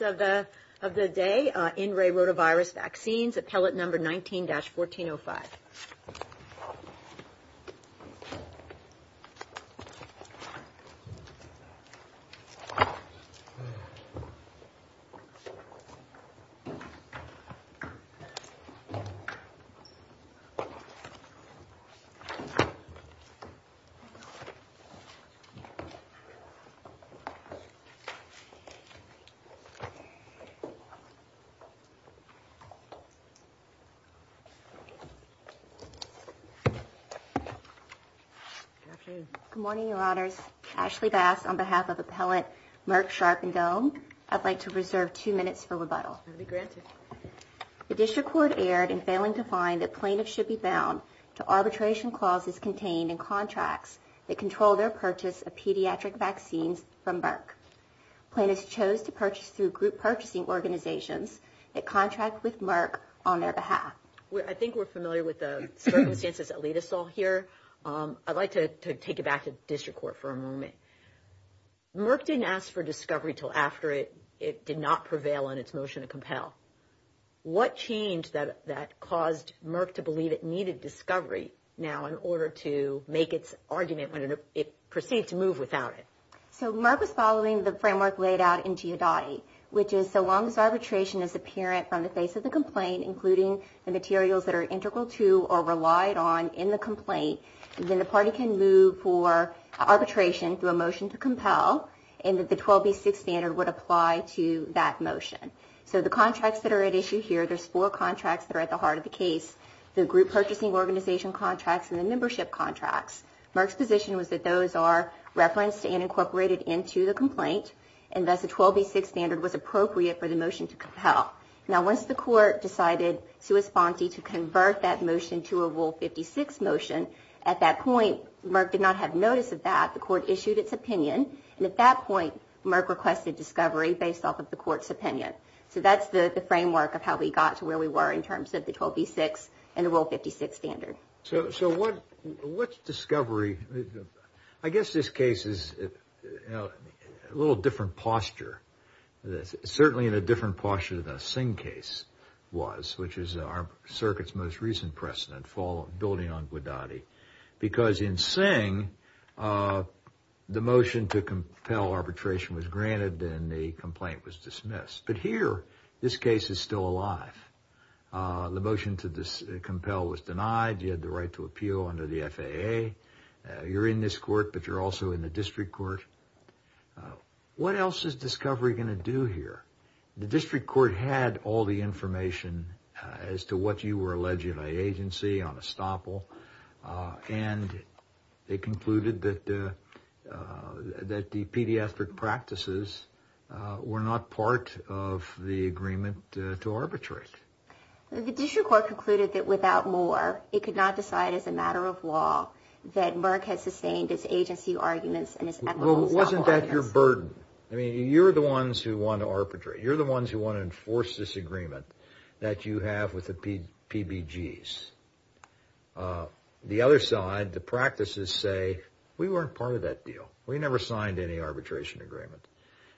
In Re Rotavirus Vaccines, appellate number 19-1405. Good morning, your honors. Ashley Bass, on behalf of appellate Merck, Sharp and Doan, I'd like to reserve two minutes for rebuttal. That will be granted. The district court erred in failing to find that plaintiffs should be bound to arbitration clauses contained in contracts that control their purchase of pediatric vaccines from group purchasing organizations that contract with Merck on their behalf. I think we're familiar with the circumstances that lead us all here. I'd like to take it back to district court for a moment. Merck didn't ask for discovery until after it did not prevail in its motion to compel. What changed that caused Merck to believe it needed discovery now in order to make its argument when it proceeded to move without it? So Merck was following the framework laid out in Giudotti, which is so long as arbitration is apparent from the face of the complaint, including the materials that are integral to or relied on in the complaint, then the party can move for arbitration through a motion to compel and that the 12B6 standard would apply to that motion. So the contracts that are at issue here, there's four contracts that are at the heart of the case, the group purchasing organization contracts and the membership contracts. Merck's position was that those are referenced and incorporated into the complaint and thus the 12B6 standard was appropriate for the motion to compel. Now once the court decided to respond to convert that motion to a Rule 56 motion, at that point Merck did not have notice of that. The court issued its opinion and at that point Merck requested discovery based off of the court's opinion. So that's the framework of how we got to where we were in terms of the 12B6 and the Rule 56 standard. So what's discovery? I guess this case is a little different posture. Certainly in a different posture than the Singh case was, which is our circuit's most recent precedent building on Giudotti. Because in Singh, the motion to compel arbitration was granted and the complaint was dismissed. But here, this case is still alive. The motion to compel was denied, you had the right to appeal under the FAA, you're in this court but you're also in the district court. What else is discovery going to do here? The district court had all the information as to what you were alleging by agency on estoppel and they concluded that the pediatric practices were not part of the agreement to arbitrate. The district court concluded that without more, it could not decide as a matter of law that Merck has sustained its agency arguments and its ethical estoppel arguments. Wasn't that your burden? You're the ones who want to enforce this agreement that you have with the PBGs. The other side, the practices say, we weren't part of that deal. We never signed any arbitration agreement.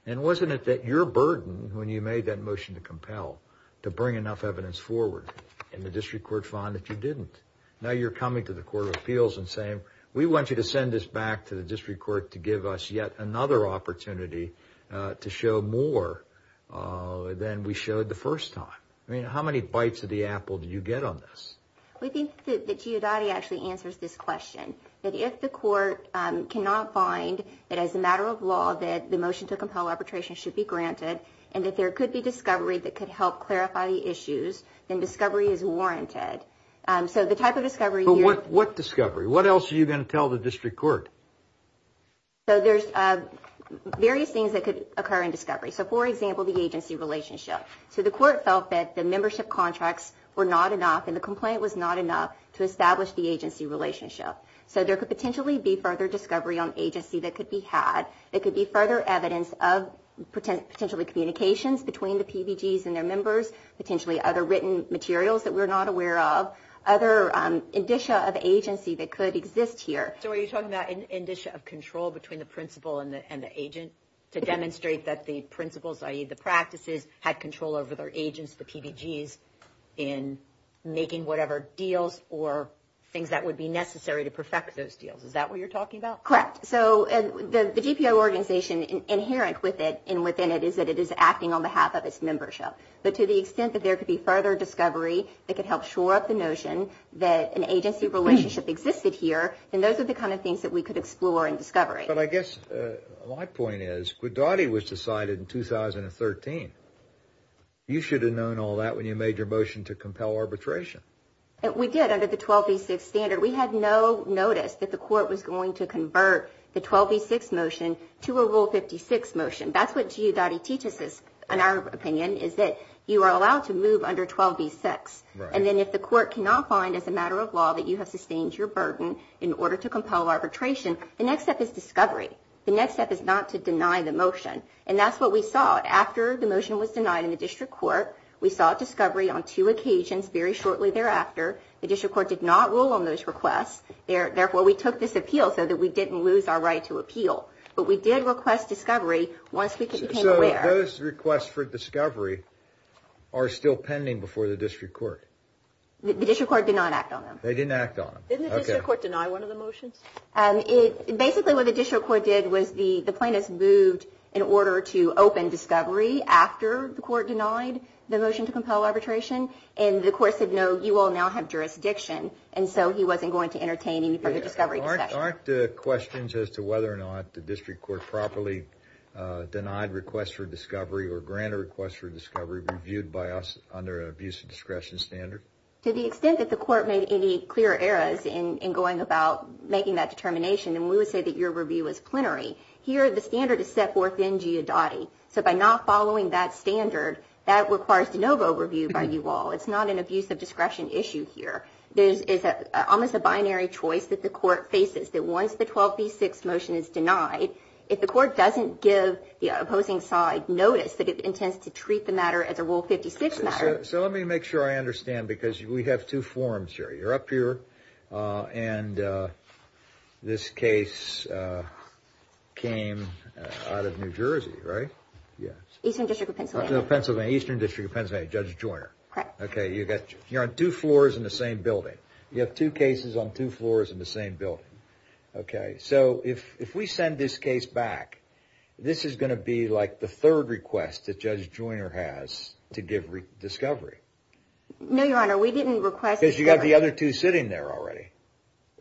And wasn't it that your burden when you made that motion to compel to bring enough evidence forward and the district court found that you didn't? Now you're coming to the court of appeals and saying, we want you to send this back to the district court to give us yet another opportunity to show more than we showed the first time. I mean, how many bites of the apple did you get on this? We think that Giudotti actually answers this question. That if the court cannot find that as a matter of law that the motion to compel arbitration should be granted and that there could be discovery that could help clarify the issues, then discovery is warranted. So the type of discovery here... What discovery? What else are you going to tell the district court? So there's various things that could occur in discovery. So for example, the agency relationship. So the court felt that the membership contracts were not enough and the complaint was not enough to establish the agency relationship. So there could potentially be further discovery on agency that could be had. There could be further evidence of potentially communications between the PBGs and their members, potentially other written materials that we're not aware of, other indicia of agency that could exist here. So are you talking about an indicia of control between the principal and the agent to demonstrate that the principals, i.e. the practices, had control over their agents, the PBGs, in making whatever deals or things that would be necessary to perfect those deals. Is that what you're talking about? Correct. So the GPO organization inherent with it and within it is that it is acting on behalf of its membership. But to the extent that there could be further discovery that could help shore up the notion that an agency relationship existed here, then those are the kind of things that we could explore in discovery. But I guess my point is, Guidotti was decided in 2013. You should have known all that when you made your motion to compel arbitration. We did under the 12V6 standard. We had no notice that the court was going to convert the 12V6 motion to a Rule 56 motion. That's what Guidotti teaches us, in our opinion, is that you are allowed to move under 12V6. And then if the court cannot find, as a matter of law, that you have sustained your burden in order to compel arbitration, the next step is discovery. The next step is not to deny the motion. And that's what we saw. After the motion was denied in the district court, we saw discovery on two occasions very shortly thereafter. The district court did not rule on those requests. Therefore, we took this as our right to appeal. But we did request discovery once we became aware. So those requests for discovery are still pending before the district court? The district court did not act on them. They didn't act on them. Didn't the district court deny one of the motions? Basically what the district court did was the plaintiffs moved in order to open discovery after the court denied the motion to compel arbitration. And the court said, no, you all now have jurisdiction. And so he wasn't going to entertain any further discovery discussion. Aren't there questions as to whether or not the district court properly denied requests for discovery or granted requests for discovery reviewed by us under an abuse of discretion standard? To the extent that the court made any clear errors in going about making that determination, and we would say that your review is plenary, here the standard is set forth in GIADOTTI. So by not following that standard, that requires de novo review by you all. It's not an abuse of discretion issue here. It's almost a binary choice that the court faces, that once the 12B6 motion is denied, if the court doesn't give the opposing side notice that it intends to treat the matter as a Rule 56 matter. So let me make sure I understand, because we have two forums here. You're up here, and this case came out of New Jersey, right? Eastern District of Pennsylvania. Eastern District of Pennsylvania, Judge Joyner. You're on two floors in the same building. You have two cases on two floors in the same building. So if we send this case back, this is going to be like the third request that Judge Joyner has to give discovery. No, Your Honor, we didn't request discovery. Because you have the other two sitting there already.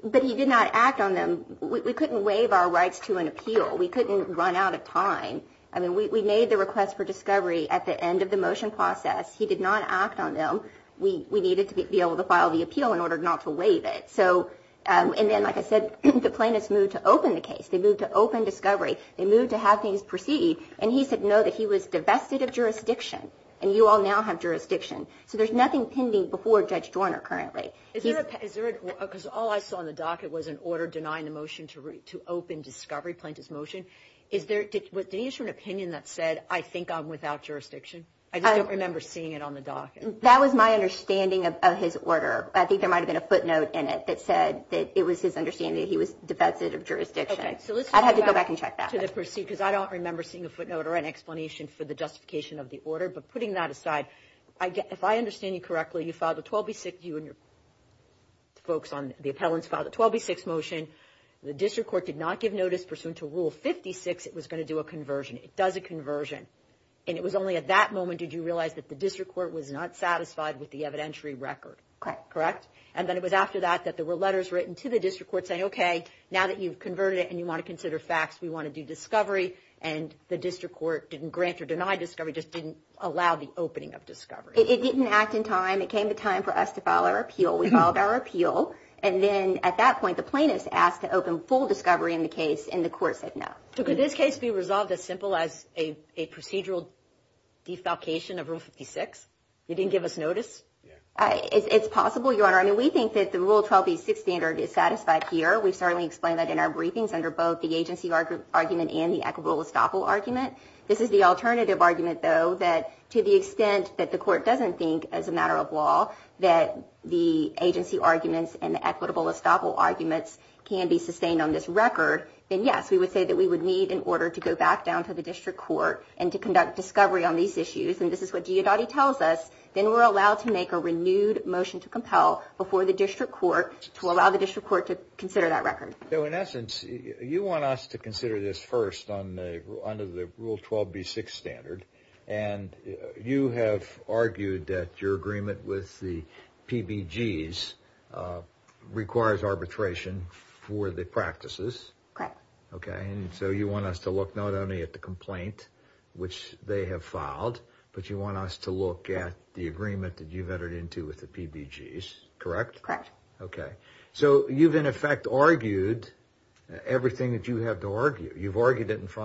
But he did not act on them. We couldn't waive our rights to an appeal. We couldn't run out of time. I mean, we made the request for discovery at the end of the motion process. He did not act on them. We needed to be able to file the appeal in order not to waive it. So and then, like I said, the plaintiffs moved to open the case. They moved to open discovery. They moved to have things proceed. And he said no, that he was divested of jurisdiction. And you all now have jurisdiction. So there's nothing pending before Judge Joyner currently. Is there a, because all I saw on the docket was an order denying the motion to open discovery, plaintiff's motion. Did he issue an opinion that said, I think I'm without jurisdiction? I just don't remember seeing it on the docket. That was my understanding of his order. I think there might have been a footnote in it that said that it was his understanding that he was divested of jurisdiction. Okay, so let's go back to the proceed, because I don't remember seeing a footnote or an explanation for the justification of the order. But putting that aside, if I understand you correctly, you filed a 12B6, you and your folks on the appellants filed a 12B6 motion. The district court did not give notice pursuant to Rule 56, it was going to do a conversion. It does a conversion. And it was only at that moment did you realize that the district court was not satisfied with the evidentiary record. Correct? And then it was after that, that there were letters written to the district court saying, okay, now that you've converted it and you want to consider facts, we want to do discovery. And the district court didn't grant or deny discovery, just didn't allow the opening of discovery. It didn't act in time. It came to time for us to file our appeal. We filed our appeal. And then at that point, the plaintiffs asked to open full discovery in the case, and the court said no. So could this case be resolved as simple as a procedural defalcation of Rule 56? You didn't give us notice? It's possible, Your Honor. I mean, we think that the Rule 12B6 standard is satisfied here. We've certainly explained that in our briefings under both the agency argument and the equitable estoppel argument. This is the alternative argument, though, that to the extent that the court doesn't think, as a matter of law, that the agency arguments and the equitable estoppel arguments can be sustained on this record, then yes, we would say that we would need, in order to go back down to the district court and to conduct discovery on these issues, and this is what Giudotti tells us, then we're allowed to make a renewed motion to compel before the district court to allow the district court to consider that record. So in essence, you want us to consider this first under the Rule 12B6 standard, and you have argued that your agreement with the PBGs requires arbitration for the practices. Correct. Okay, and so you want us to look not only at the complaint, which they have filed, but you want us to look at the agreement that you've entered into with the PBGs, correct? Correct. Okay. So you've, in effect, argued everything that you have to argue. You've argued it in full,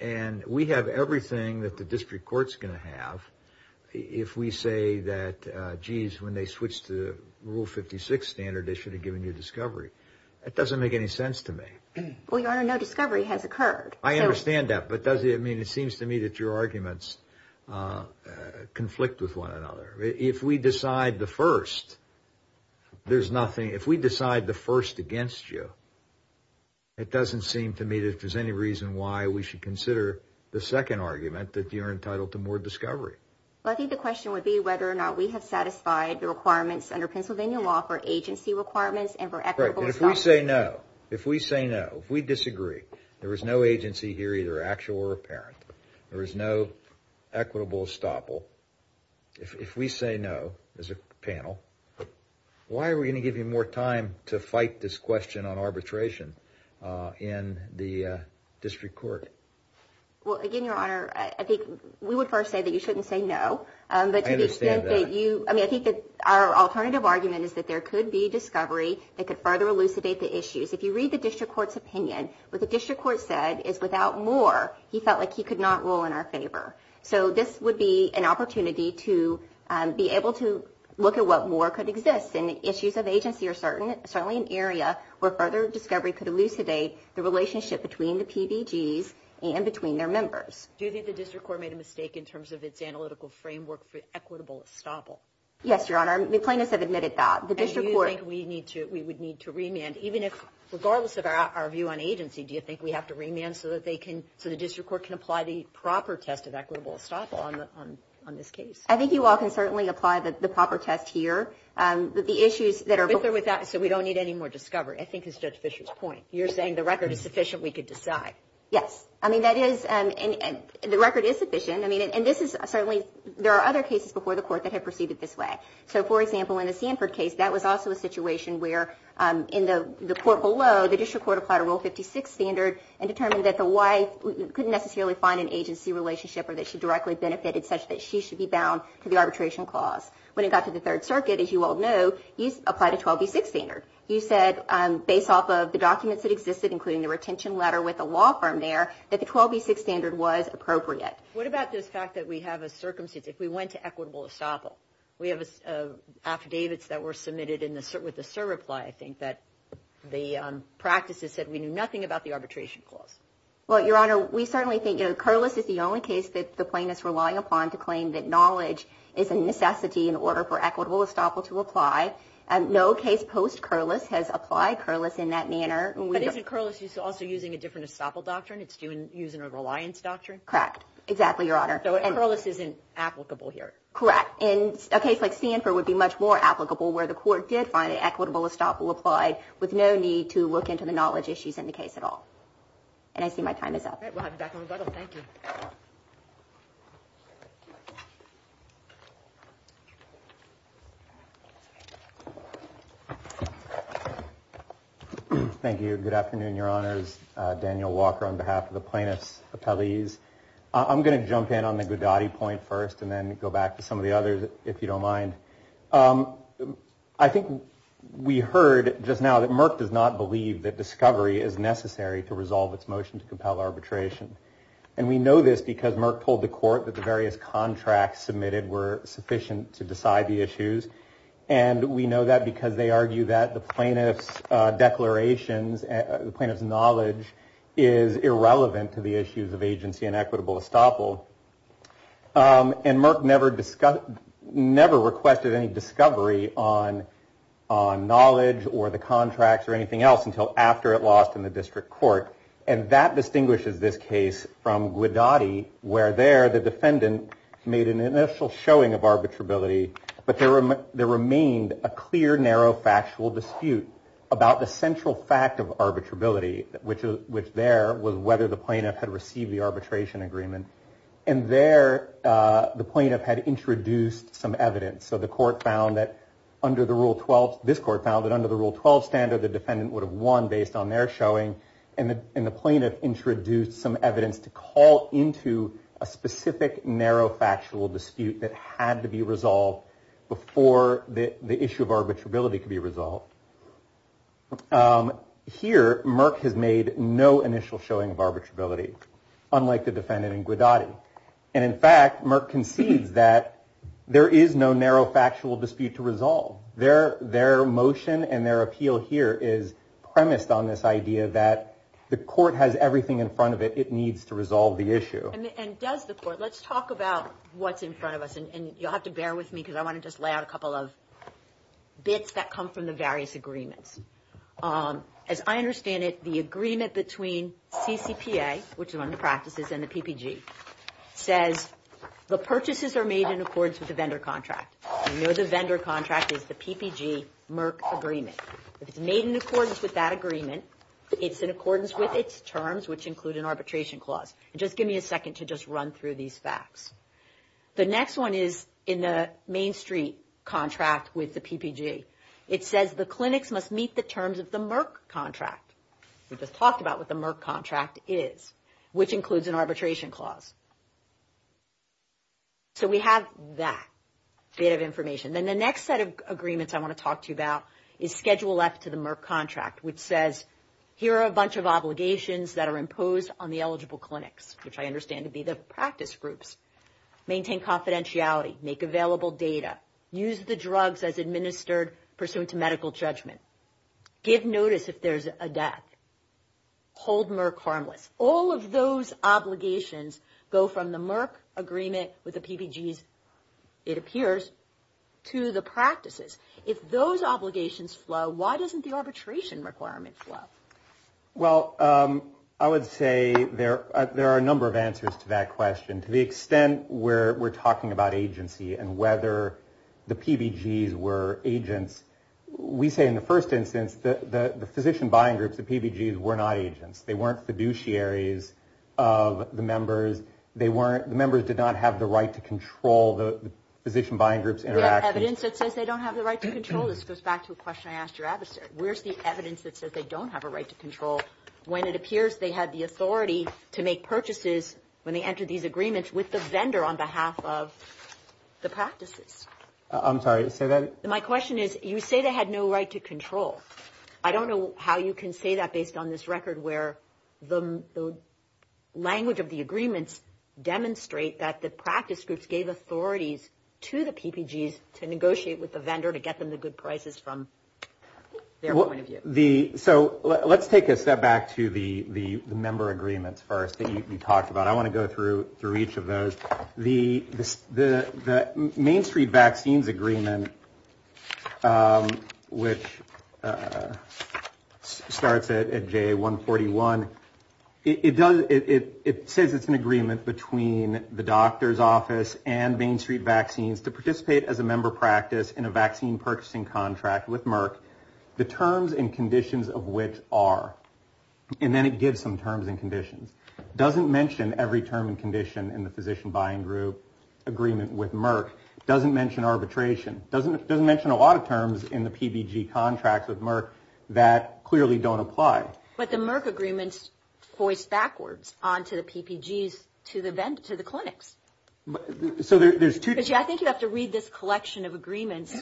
and we have everything that the district court's going to have if we say that, geez, when they switched to Rule 56 standard, they should have given you discovery. That doesn't make any sense to me. Well, Your Honor, no discovery has occurred. I understand that, but does it mean, it seems to me that your arguments conflict with one another. If we decide the first, there's nothing, if we decide the first against you, it doesn't seem to me that there's any reason why we should consider the second argument that you're entitled to more discovery. Well, I think the question would be whether or not we have satisfied the requirements under Pennsylvania law for agency requirements and for equitable estoppel. Right, but if we say no, if we say no, if we disagree, there is no agency here, either actual or apparent. There is no equitable estoppel. If we say no, as a panel, why are we going to give you more time to fight this question on arbitration in the district court? Well, again, Your Honor, I think we would first say that you shouldn't say no, but to the extent that you, I mean, I think that our alternative argument is that there could be discovery that could further elucidate the issues. If you read the district court's opinion, what the district court said is, without more, he felt like he could not rule in our favor. So this would be an opportunity to be able to look at what more could exist and the issues of agency are certainly an area where further discovery could elucidate the relationship between the PBGs and between their members. Do you think the district court made a mistake in terms of its analytical framework for equitable estoppel? Yes, Your Honor. The plaintiffs have admitted that. And do you think we need to, we would need to remand, even if, regardless of our view on agency, do you think we have to remand so that they can, so the district court can apply the proper test of equitable estoppel on this case? I think you all can certainly apply the proper test here. The issues that are With or without, so we don't need any more discovery, I think is Judge Fischer's point. You're saying the record is sufficient, we could decide. Yes. I mean, that is, the record is sufficient. I mean, and this is certainly, there are other cases before the court that have proceeded this way. So, for example, in the Sanford case, that was also a situation where in the court below, the district court applied a Rule 56 standard and determined that the wife couldn't necessarily find an agency relationship or that she directly benefited such that she should be bound to the arbitration clause. When it got to the Third Circuit, as you all know, you applied a 12B6 standard. You said, based off of the documents that existed, including the retention letter with the law firm there, that the 12B6 standard was appropriate. What about this fact that we have a circumstance, if we went to equitable estoppel? We have affidavits that were submitted with a surreply, I think, that the practices said we knew nothing about the arbitration clause. Well, Your Honor, we certainly think, you know, Curliss is the only case that the plaintiff's relying upon to claim that knowledge is a necessity in order for equitable estoppel to apply. No case post-Curliss has applied Curliss in that manner. But isn't Curliss also using a different estoppel doctrine? It's using a reliance doctrine? Correct. Exactly, Your Honor. So, Curliss isn't applicable here. Correct. And a case like Sanford would be much more applicable where the court did find an equitable estoppel applied with no need to look into the knowledge issues in the case at all. And I see my time is up. All right, we'll have you back on the button. Thank you. Thank you. Good afternoon, Your Honors. Daniel Walker on behalf of the plaintiffs' appellees. I'm going to jump in on the Godotti point first and then go back to some of the others, if you don't mind. I think we heard just now that Merck does not believe that discovery is necessary to resolve its motion to compel arbitration. And we know this because Merck told the court that the various contracts submitted were sufficient to decide the issues. And we know that because they argue that the plaintiff's declarations, the plaintiff's knowledge is irrelevant to the issues of agency and equitable estoppel. And Merck never requested any discovery on knowledge or the contracts or anything else until after it lost in the district court. And that distinguishes this case from Godotti, where there the defendant made an initial showing of arbitrability. But there remained a clear, narrow, factual dispute about the central fact of arbitrability, which there was whether the plaintiff had received the arbitration agreement. And there the plaintiff had introduced some evidence. So the court found that under the Rule 12, this court found that under the Rule 12 standard, the defendant would have won based on their showing. And the plaintiff introduced some evidence to call into a specific, narrow, factual dispute that had to be resolved before the issue of arbitrability could be resolved. Here, Merck has made no initial showing of arbitrability, unlike the defendant in Godotti. And in fact, Merck concedes that there is no narrow, factual dispute to here is premised on this idea that the court has everything in front of it. It needs to resolve the issue. And does the court. Let's talk about what's in front of us. And you'll have to bear with me because I want to just lay out a couple of bits that come from the various agreements. As I understand it, the agreement between CCPA, which is one of the practices, and the PPG says the purchases are made in accordance with the vendor contract. We know the vendor contract is the PPG-Merck agreement. If it's made in accordance with that agreement, it's in accordance with its terms, which include an arbitration clause. And just give me a second to just run through these facts. The next one is in the Main Street contract with the PPG. It says the clinics must meet the terms of the Merck contract. We just talked about what the Merck contract is, which includes an arbitration clause. So we have that bit of information, then the next set of agreements I want to talk to you about is Schedule F to the Merck contract, which says, here are a bunch of obligations that are imposed on the eligible clinics, which I understand to be the practice groups. Maintain confidentiality, make available data, use the drugs as administered pursuant to medical judgment, give notice if there's a death, hold Merck harmless. All of those obligations go from the Merck agreement with the PPGs, it appears, to the obligations flow. Why doesn't the arbitration requirement flow? Well, I would say there are a number of answers to that question. To the extent where we're talking about agency and whether the PPGs were agents, we say in the first instance, the physician buying groups, the PPGs were not agents. They weren't fiduciaries of the members. They weren't, the members did not have the right to control the physician buying groups interaction. Where's the evidence that says they don't have the right to control? This goes back to a question I asked your adversary. Where's the evidence that says they don't have a right to control when it appears they had the authority to make purchases when they entered these agreements with the vendor on behalf of the practices? I'm sorry to say that. My question is, you say they had no right to control. I don't know how you can say that based on this record where the language of the PPGs to negotiate with the vendor to get them the good prices from their point of view. So let's take a step back to the member agreements first that you talked about. I want to go through each of those. The Main Street Vaccines Agreement, which starts at J141, it says it's an agreement between the doctor's office and Main Street Vaccines to participate as a member practice in a vaccine purchasing contract with Merck, the terms and conditions of which are, and then it gives some terms and conditions, doesn't mention every term and condition in the physician buying group agreement with Merck, doesn't mention arbitration, doesn't mention a lot of terms in the PPG contracts with Merck that clearly don't apply. But the Merck agreements voice backwards onto the PPGs to the clinics. So there's two. I think you have to read this collection of agreements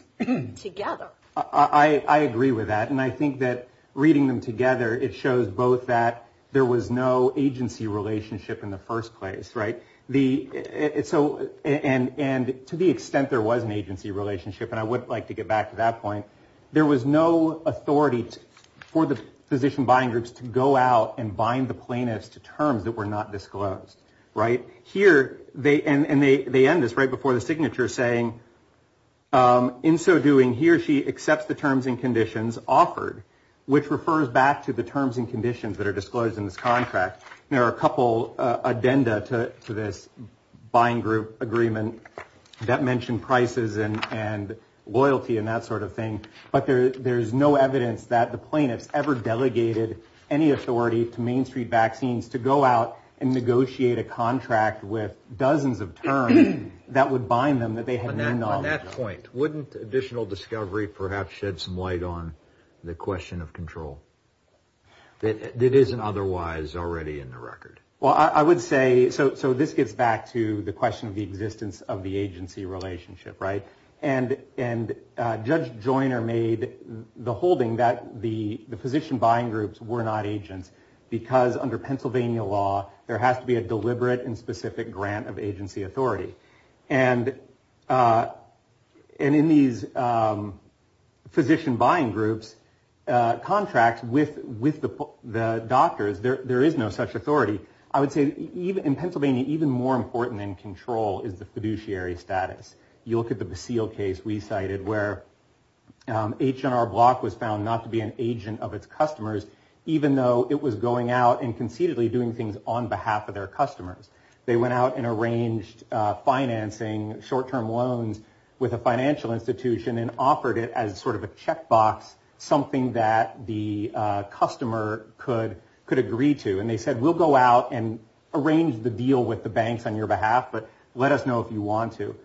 together. I agree with that. And I think that reading them together, it shows both that there was no agency relationship in the first place. Right. The so and to the extent there was an agency relationship, and I would like to get back to that point, there was no authority for the physician buying groups to go out and bind the plaintiffs to terms that were not disclosed. Right here. They and they end this right before the signature saying in so doing, he or she accepts the terms and conditions offered, which refers back to the terms and conditions that are disclosed in this contract. There are a couple addenda to this buying group agreement that mentioned prices and loyalty and that sort of thing. But there's no evidence that the plaintiffs ever delegated any authority to Main Street vaccines to go out and negotiate a contract with dozens of terms that would bind them that they had. At that point, wouldn't additional discovery perhaps shed some light on the question of control that isn't otherwise already in the record? Well, I would say so. So this gets back to the question of the existence of the agency relationship. Right. And and Judge Joyner made the holding that the physician buying groups were not agents because under Pennsylvania law, there has to be a deliberate and specific grant of agency authority. And and in these physician buying groups, contracts with with the doctors, there is no such authority. I would say even in Pennsylvania, even more important than control is the fiduciary status. You look at the Basile case we cited where H&R Block was found not to be an agent of its customers, even though it was going out and conceitedly doing things on behalf of their customers. They went out and arranged financing, short term loans with a financial institution and offered it as sort of a checkbox, something that the customer could could agree to. And they said, we'll go out and arrange the deal with the banks on your behalf. But let us know if you want to.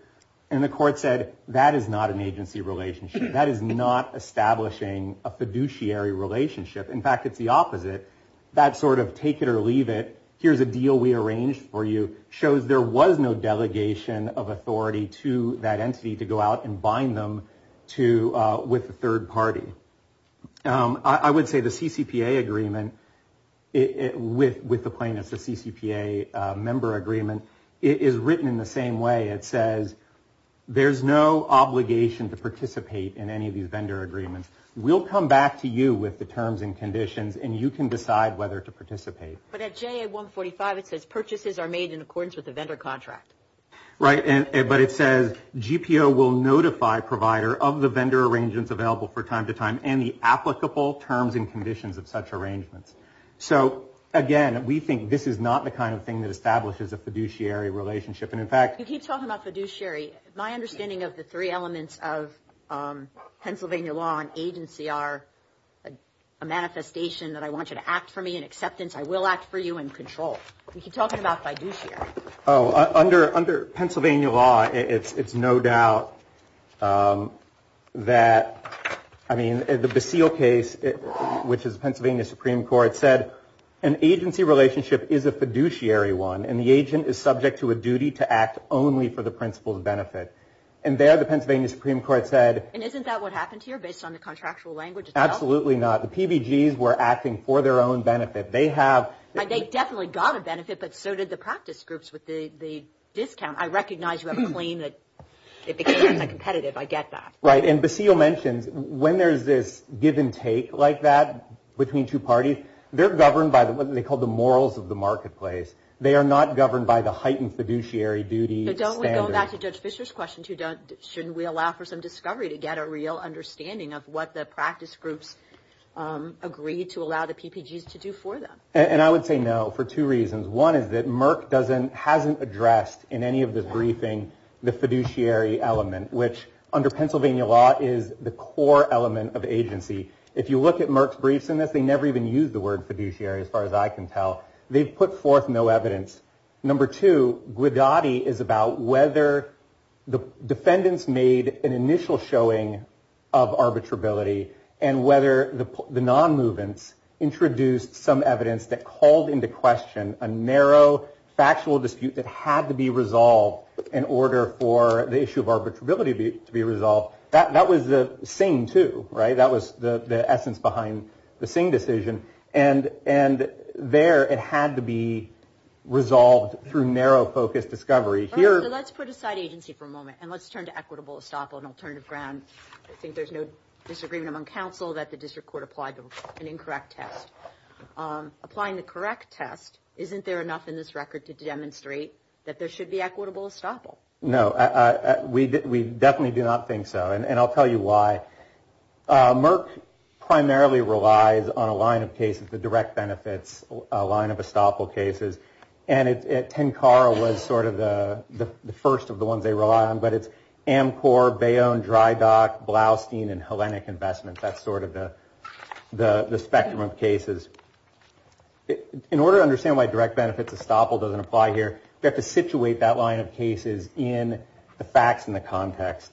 And the court said that is not an agency relationship. That is not establishing a fiduciary relationship. In fact, it's the opposite. That sort of take it or leave it. Here's a deal we arranged for you shows there was no delegation of authority to that entity to go out and bind them to with the third party. I would say the CCPA agreement with the plaintiffs, the CCPA member agreement is written in the same way. It says there's no obligation to participate in any of these vendor agreements. We'll come back to you with the terms and conditions and you can decide whether to participate. But at JA 145, it says purchases are made in accordance with the vendor contract. Right. But it says GPO will notify provider of the vendor arrangements available for time to time and the applicable terms and conditions of such arrangements. So, again, we think this is not the kind of thing that establishes a fiduciary relationship. And in fact, you keep talking about fiduciary. My understanding of the three elements of Pennsylvania law and agency are a manifestation that I want you to act for me in acceptance. I will act for you in control. We keep talking about fiduciary. Oh, under Pennsylvania law, it's no doubt that, I mean, the Basile case, which is Pennsylvania Supreme Court, said an agency relationship is a fiduciary one and the agent is subject to a duty to act only for the principal's benefit. And there the Pennsylvania Supreme Court said. And isn't that what happened here based on the contractual language? Absolutely not. The PBGs were acting for their own benefit. They have. They definitely got a benefit, but so did the practice groups with the discount. I recognize you have a claim that it becomes a competitive. I get that. Right. And Basile mentions when there's this give and take like that between two parties, they're governed by what they call the morals of the marketplace. They are not governed by the heightened fiduciary duty. So don't we go back to Judge Fischer's question, shouldn't we allow for some discovery to get a real understanding of what the practice groups agreed to allow the PBGs to do for them? And I would say no for two reasons. One is that Merck hasn't addressed in any of this briefing the fiduciary element, which under Pennsylvania law is the core element of agency. If you look at Merck's briefs in this, they never even use the word fiduciary as far as I can tell. They've put forth no evidence. Number two, Guidotti is about whether the defendants made an initial showing of arbitrability and whether the non-movements introduced some evidence that called into question a narrow factual dispute that had to be resolved in order for the issue of arbitrability to be resolved. That was the same, too. Right. That was the essence behind the Singh decision. And there it had to be resolved through narrow focused discovery. So let's put aside agency for a moment and let's turn to equitable estoppel and alternative ground. I think there's no disagreement among counsel that the district court applied an incorrect test. Applying the correct test, isn't there enough in this record to demonstrate that there should be equitable estoppel? No, we definitely do not think so. And I'll tell you why. Merck primarily relies on a line of cases, the direct benefits, a line of estoppel cases. And Tenkara was sort of the first of the ones they rely on. But it's Amcor, Bayonne, Dry Dock, Blaustein and Hellenic Investments. That's sort of the spectrum of cases. In order to understand why direct benefits estoppel doesn't apply here, you have to situate that line of cases in the facts and the context.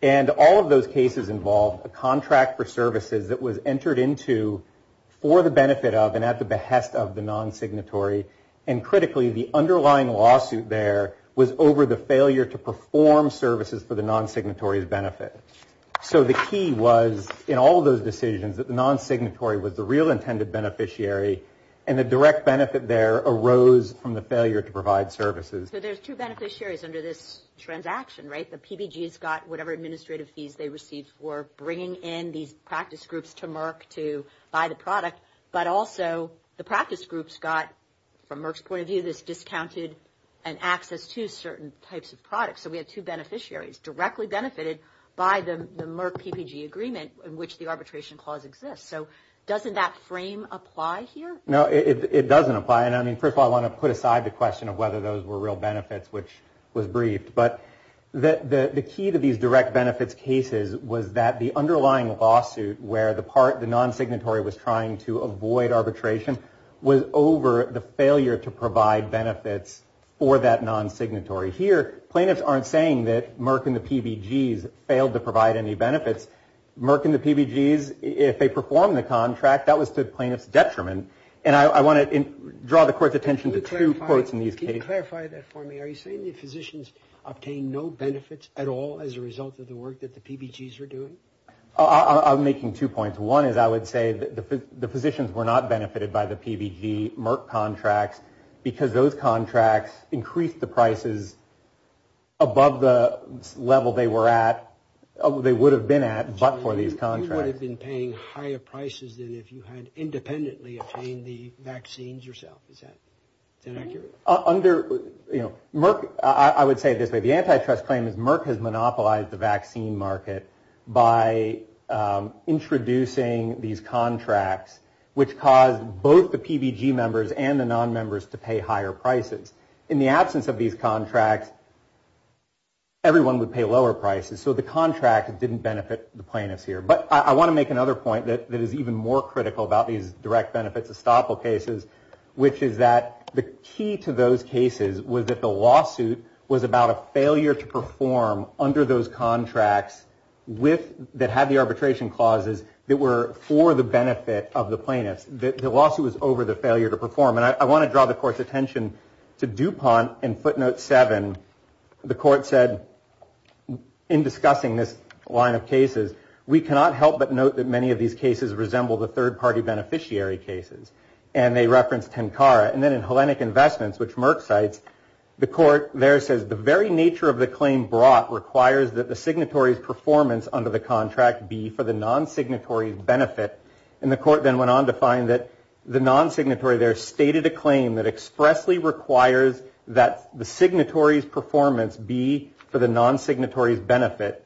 And all of those cases involved a contract for services that was entered into for the benefit of and at the behest of the non-signatory. And critically, the underlying lawsuit there was over the failure to perform services for the non-signatory's benefit. So the key was in all of those decisions that the non-signatory was the real intended beneficiary and the direct benefit there arose from the failure to provide services. So there's two beneficiaries under this transaction, right? The PPG's got whatever administrative fees they received for bringing in these practice groups to Merck to buy the product. But also the practice groups got, from Merck's point of view, this discounted and access to certain types of products. So we have two beneficiaries directly benefited by the Merck PPG agreement in which the arbitration clause exists. So doesn't that frame apply here? No, it doesn't apply. And I mean, first of all, I want to put aside the question of whether those were real benefits, which was briefed. But the key to these direct benefits cases was that the underlying lawsuit where the part, the non-signatory was trying to avoid arbitration was over the failure to provide benefits for that non-signatory. Here, plaintiffs aren't saying that Merck and the PPG's failed to provide any benefits. Merck and the PPG's, if they perform the contract, that was to the plaintiff's detriment. And I want to draw the court's attention to two quotes in these cases. Can you clarify that for me? Are you saying the physicians obtained no benefits at all as a result of the work that the PPG's are doing? I'm making two points. One is I would say that the physicians were not benefited by the PPG Merck contracts because those contracts increased the prices above the level they were at, they would have been at, but for these contracts. You would have been paying higher prices than if you had independently obtained the vaccines yourself. Is that accurate? Under Merck, I would say this way, the antitrust claim is Merck has monopolized the vaccine market by introducing these contracts, which caused both the PPG members and the non-members to pay higher prices. In the absence of these contracts, everyone would pay lower prices. So the contract didn't benefit the plaintiffs here. But I want to make another point that is even more critical about these direct benefits estoppel cases, which is that the key to those cases was that the lawsuit was about a failure to perform under those contracts that had the arbitration clauses that were for the benefit of the plaintiffs. The lawsuit was over the failure to perform. And I want to draw the court's attention to DuPont and footnote seven. The court said in discussing this line of cases, we cannot help but note that many of these cases resemble the third party beneficiary cases. And they referenced Tenkara. And then in Hellenic Investments, which Merck cites, the court there says the very nature of the claim brought requires that the signatory's performance under the contract be for the non-signatory's benefit. And the court then went on to find that the non-signatory there stated a claim that expressly requires that the signatory's performance be for the non-signatory's benefit.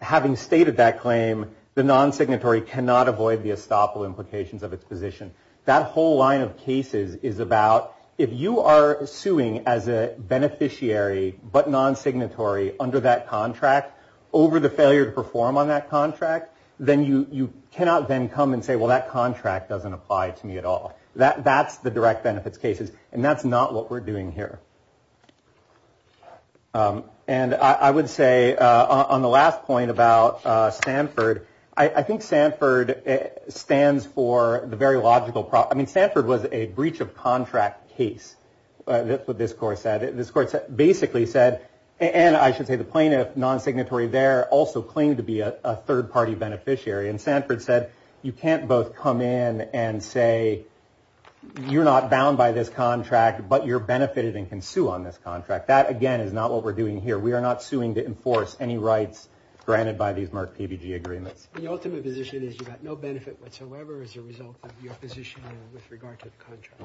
Having stated that claim, the non-signatory cannot avoid the estoppel implications of its position. That whole line of cases is about if you are suing as a beneficiary but non-signatory under that contract over the failure to perform on that contract, then you cannot then come and say, well, that contract doesn't apply to me at all. That's the direct benefits cases. And that's not what we're doing here. And I would say on the last point about Stanford, I think Stanford stands for the very logical problem. I mean, Stanford was a breach of contract case. That's what this court said. This court basically said, and I should say the plaintiff non-signatory there also claimed to be a third party beneficiary. And Stanford said, you can't both come in and say you're not bound by this contract, but you're benefited and contributed. You can sue on this contract. That, again, is not what we're doing here. We are not suing to enforce any rights granted by these Merck PBG agreements. The ultimate position is you've got no benefit whatsoever as a result of your position with regard to the contract.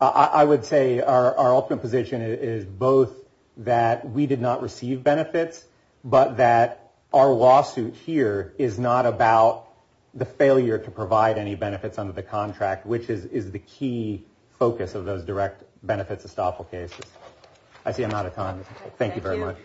I would say our ultimate position is both that we did not receive benefits, but that our lawsuit here is not about the failure to provide any benefits under the contract, which is the key focus of those direct benefits estoppel cases. I see I'm out of time. Thank you very much.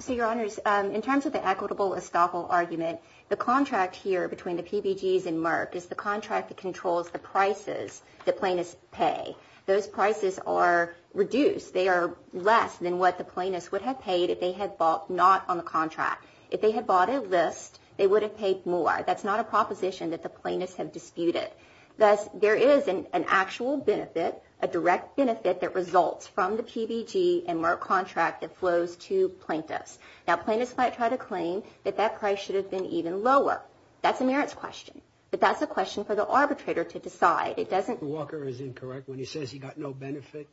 So, Your Honors, in terms of the equitable estoppel argument, the contract here between the PBGs and Merck is the contract that controls the prices the plaintiffs pay. Those prices are reduced. They are less than what the plaintiffs would have paid if they had bought not on the contract. If they had bought a list, they would have paid more. That's not a proposition that the plaintiffs have disputed. Thus, there is an actual benefit, a direct benefit that results from the PBG and Merck contract that flows to plaintiffs. Now, plaintiffs might try to claim that that price should have been even lower. That's a merits question, but that's a question for the arbitrator to decide. Walker is incorrect when he says he got no benefit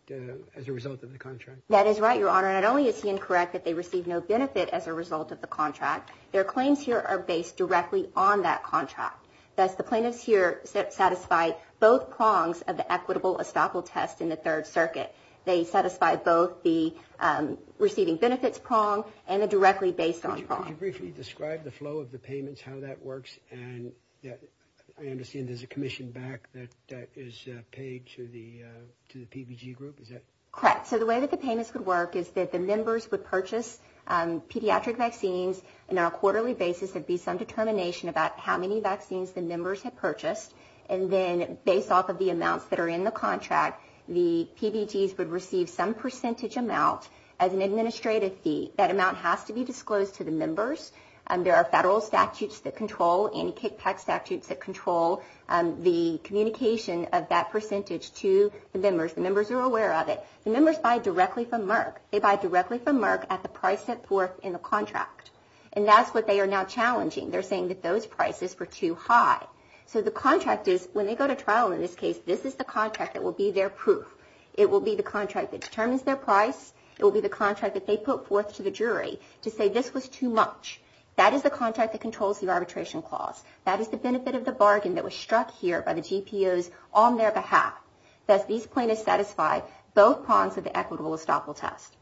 as a result of the contract. That is right, Your Honor. Not only is he incorrect that they received no benefit as a result of the contract, their claims here are based directly on that contract. Thus, the plaintiffs here satisfy both prongs of the equitable estoppel test in the Third Circuit. They satisfy both the receiving benefits prong and a directly based on prong. Could you briefly describe the flow of the payments, how that works? And I understand there's a commission back that is paid to the to the PBG group. Is that correct? So the way that the payments could work is that the members would purchase pediatric vaccines on a quarterly basis. There'd be some determination about how many vaccines the members had purchased. And then based off of the amounts that are in the contract, the PBGs would receive some percentage amount as an administrative fee. That amount has to be disclosed to the members. There are federal statutes that control, anti-kickback statutes that control the communication of that percentage to the members. The members are aware of it. The members buy directly from Merck. They buy directly from Merck at the price set forth in the contract. And that's what they are now challenging. They're saying that those prices were too high. So the contract is when they go to trial in this case, this is the contract that will be their proof. It will be the contract that determines their price. It will be the contract that they put forth to the jury to say this was too much. That is the contract that controls the arbitration clause. That is the benefit of the bargain that was struck here by the GPOs on their behalf. Does these plaintiffs satisfy both pawns of the equitable estoppel test?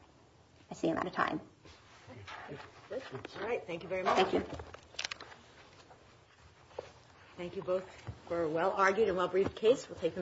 I see I'm out of time. All right. Thank you very much. Thank you both for a well-argued and well-briefed case. We'll take them.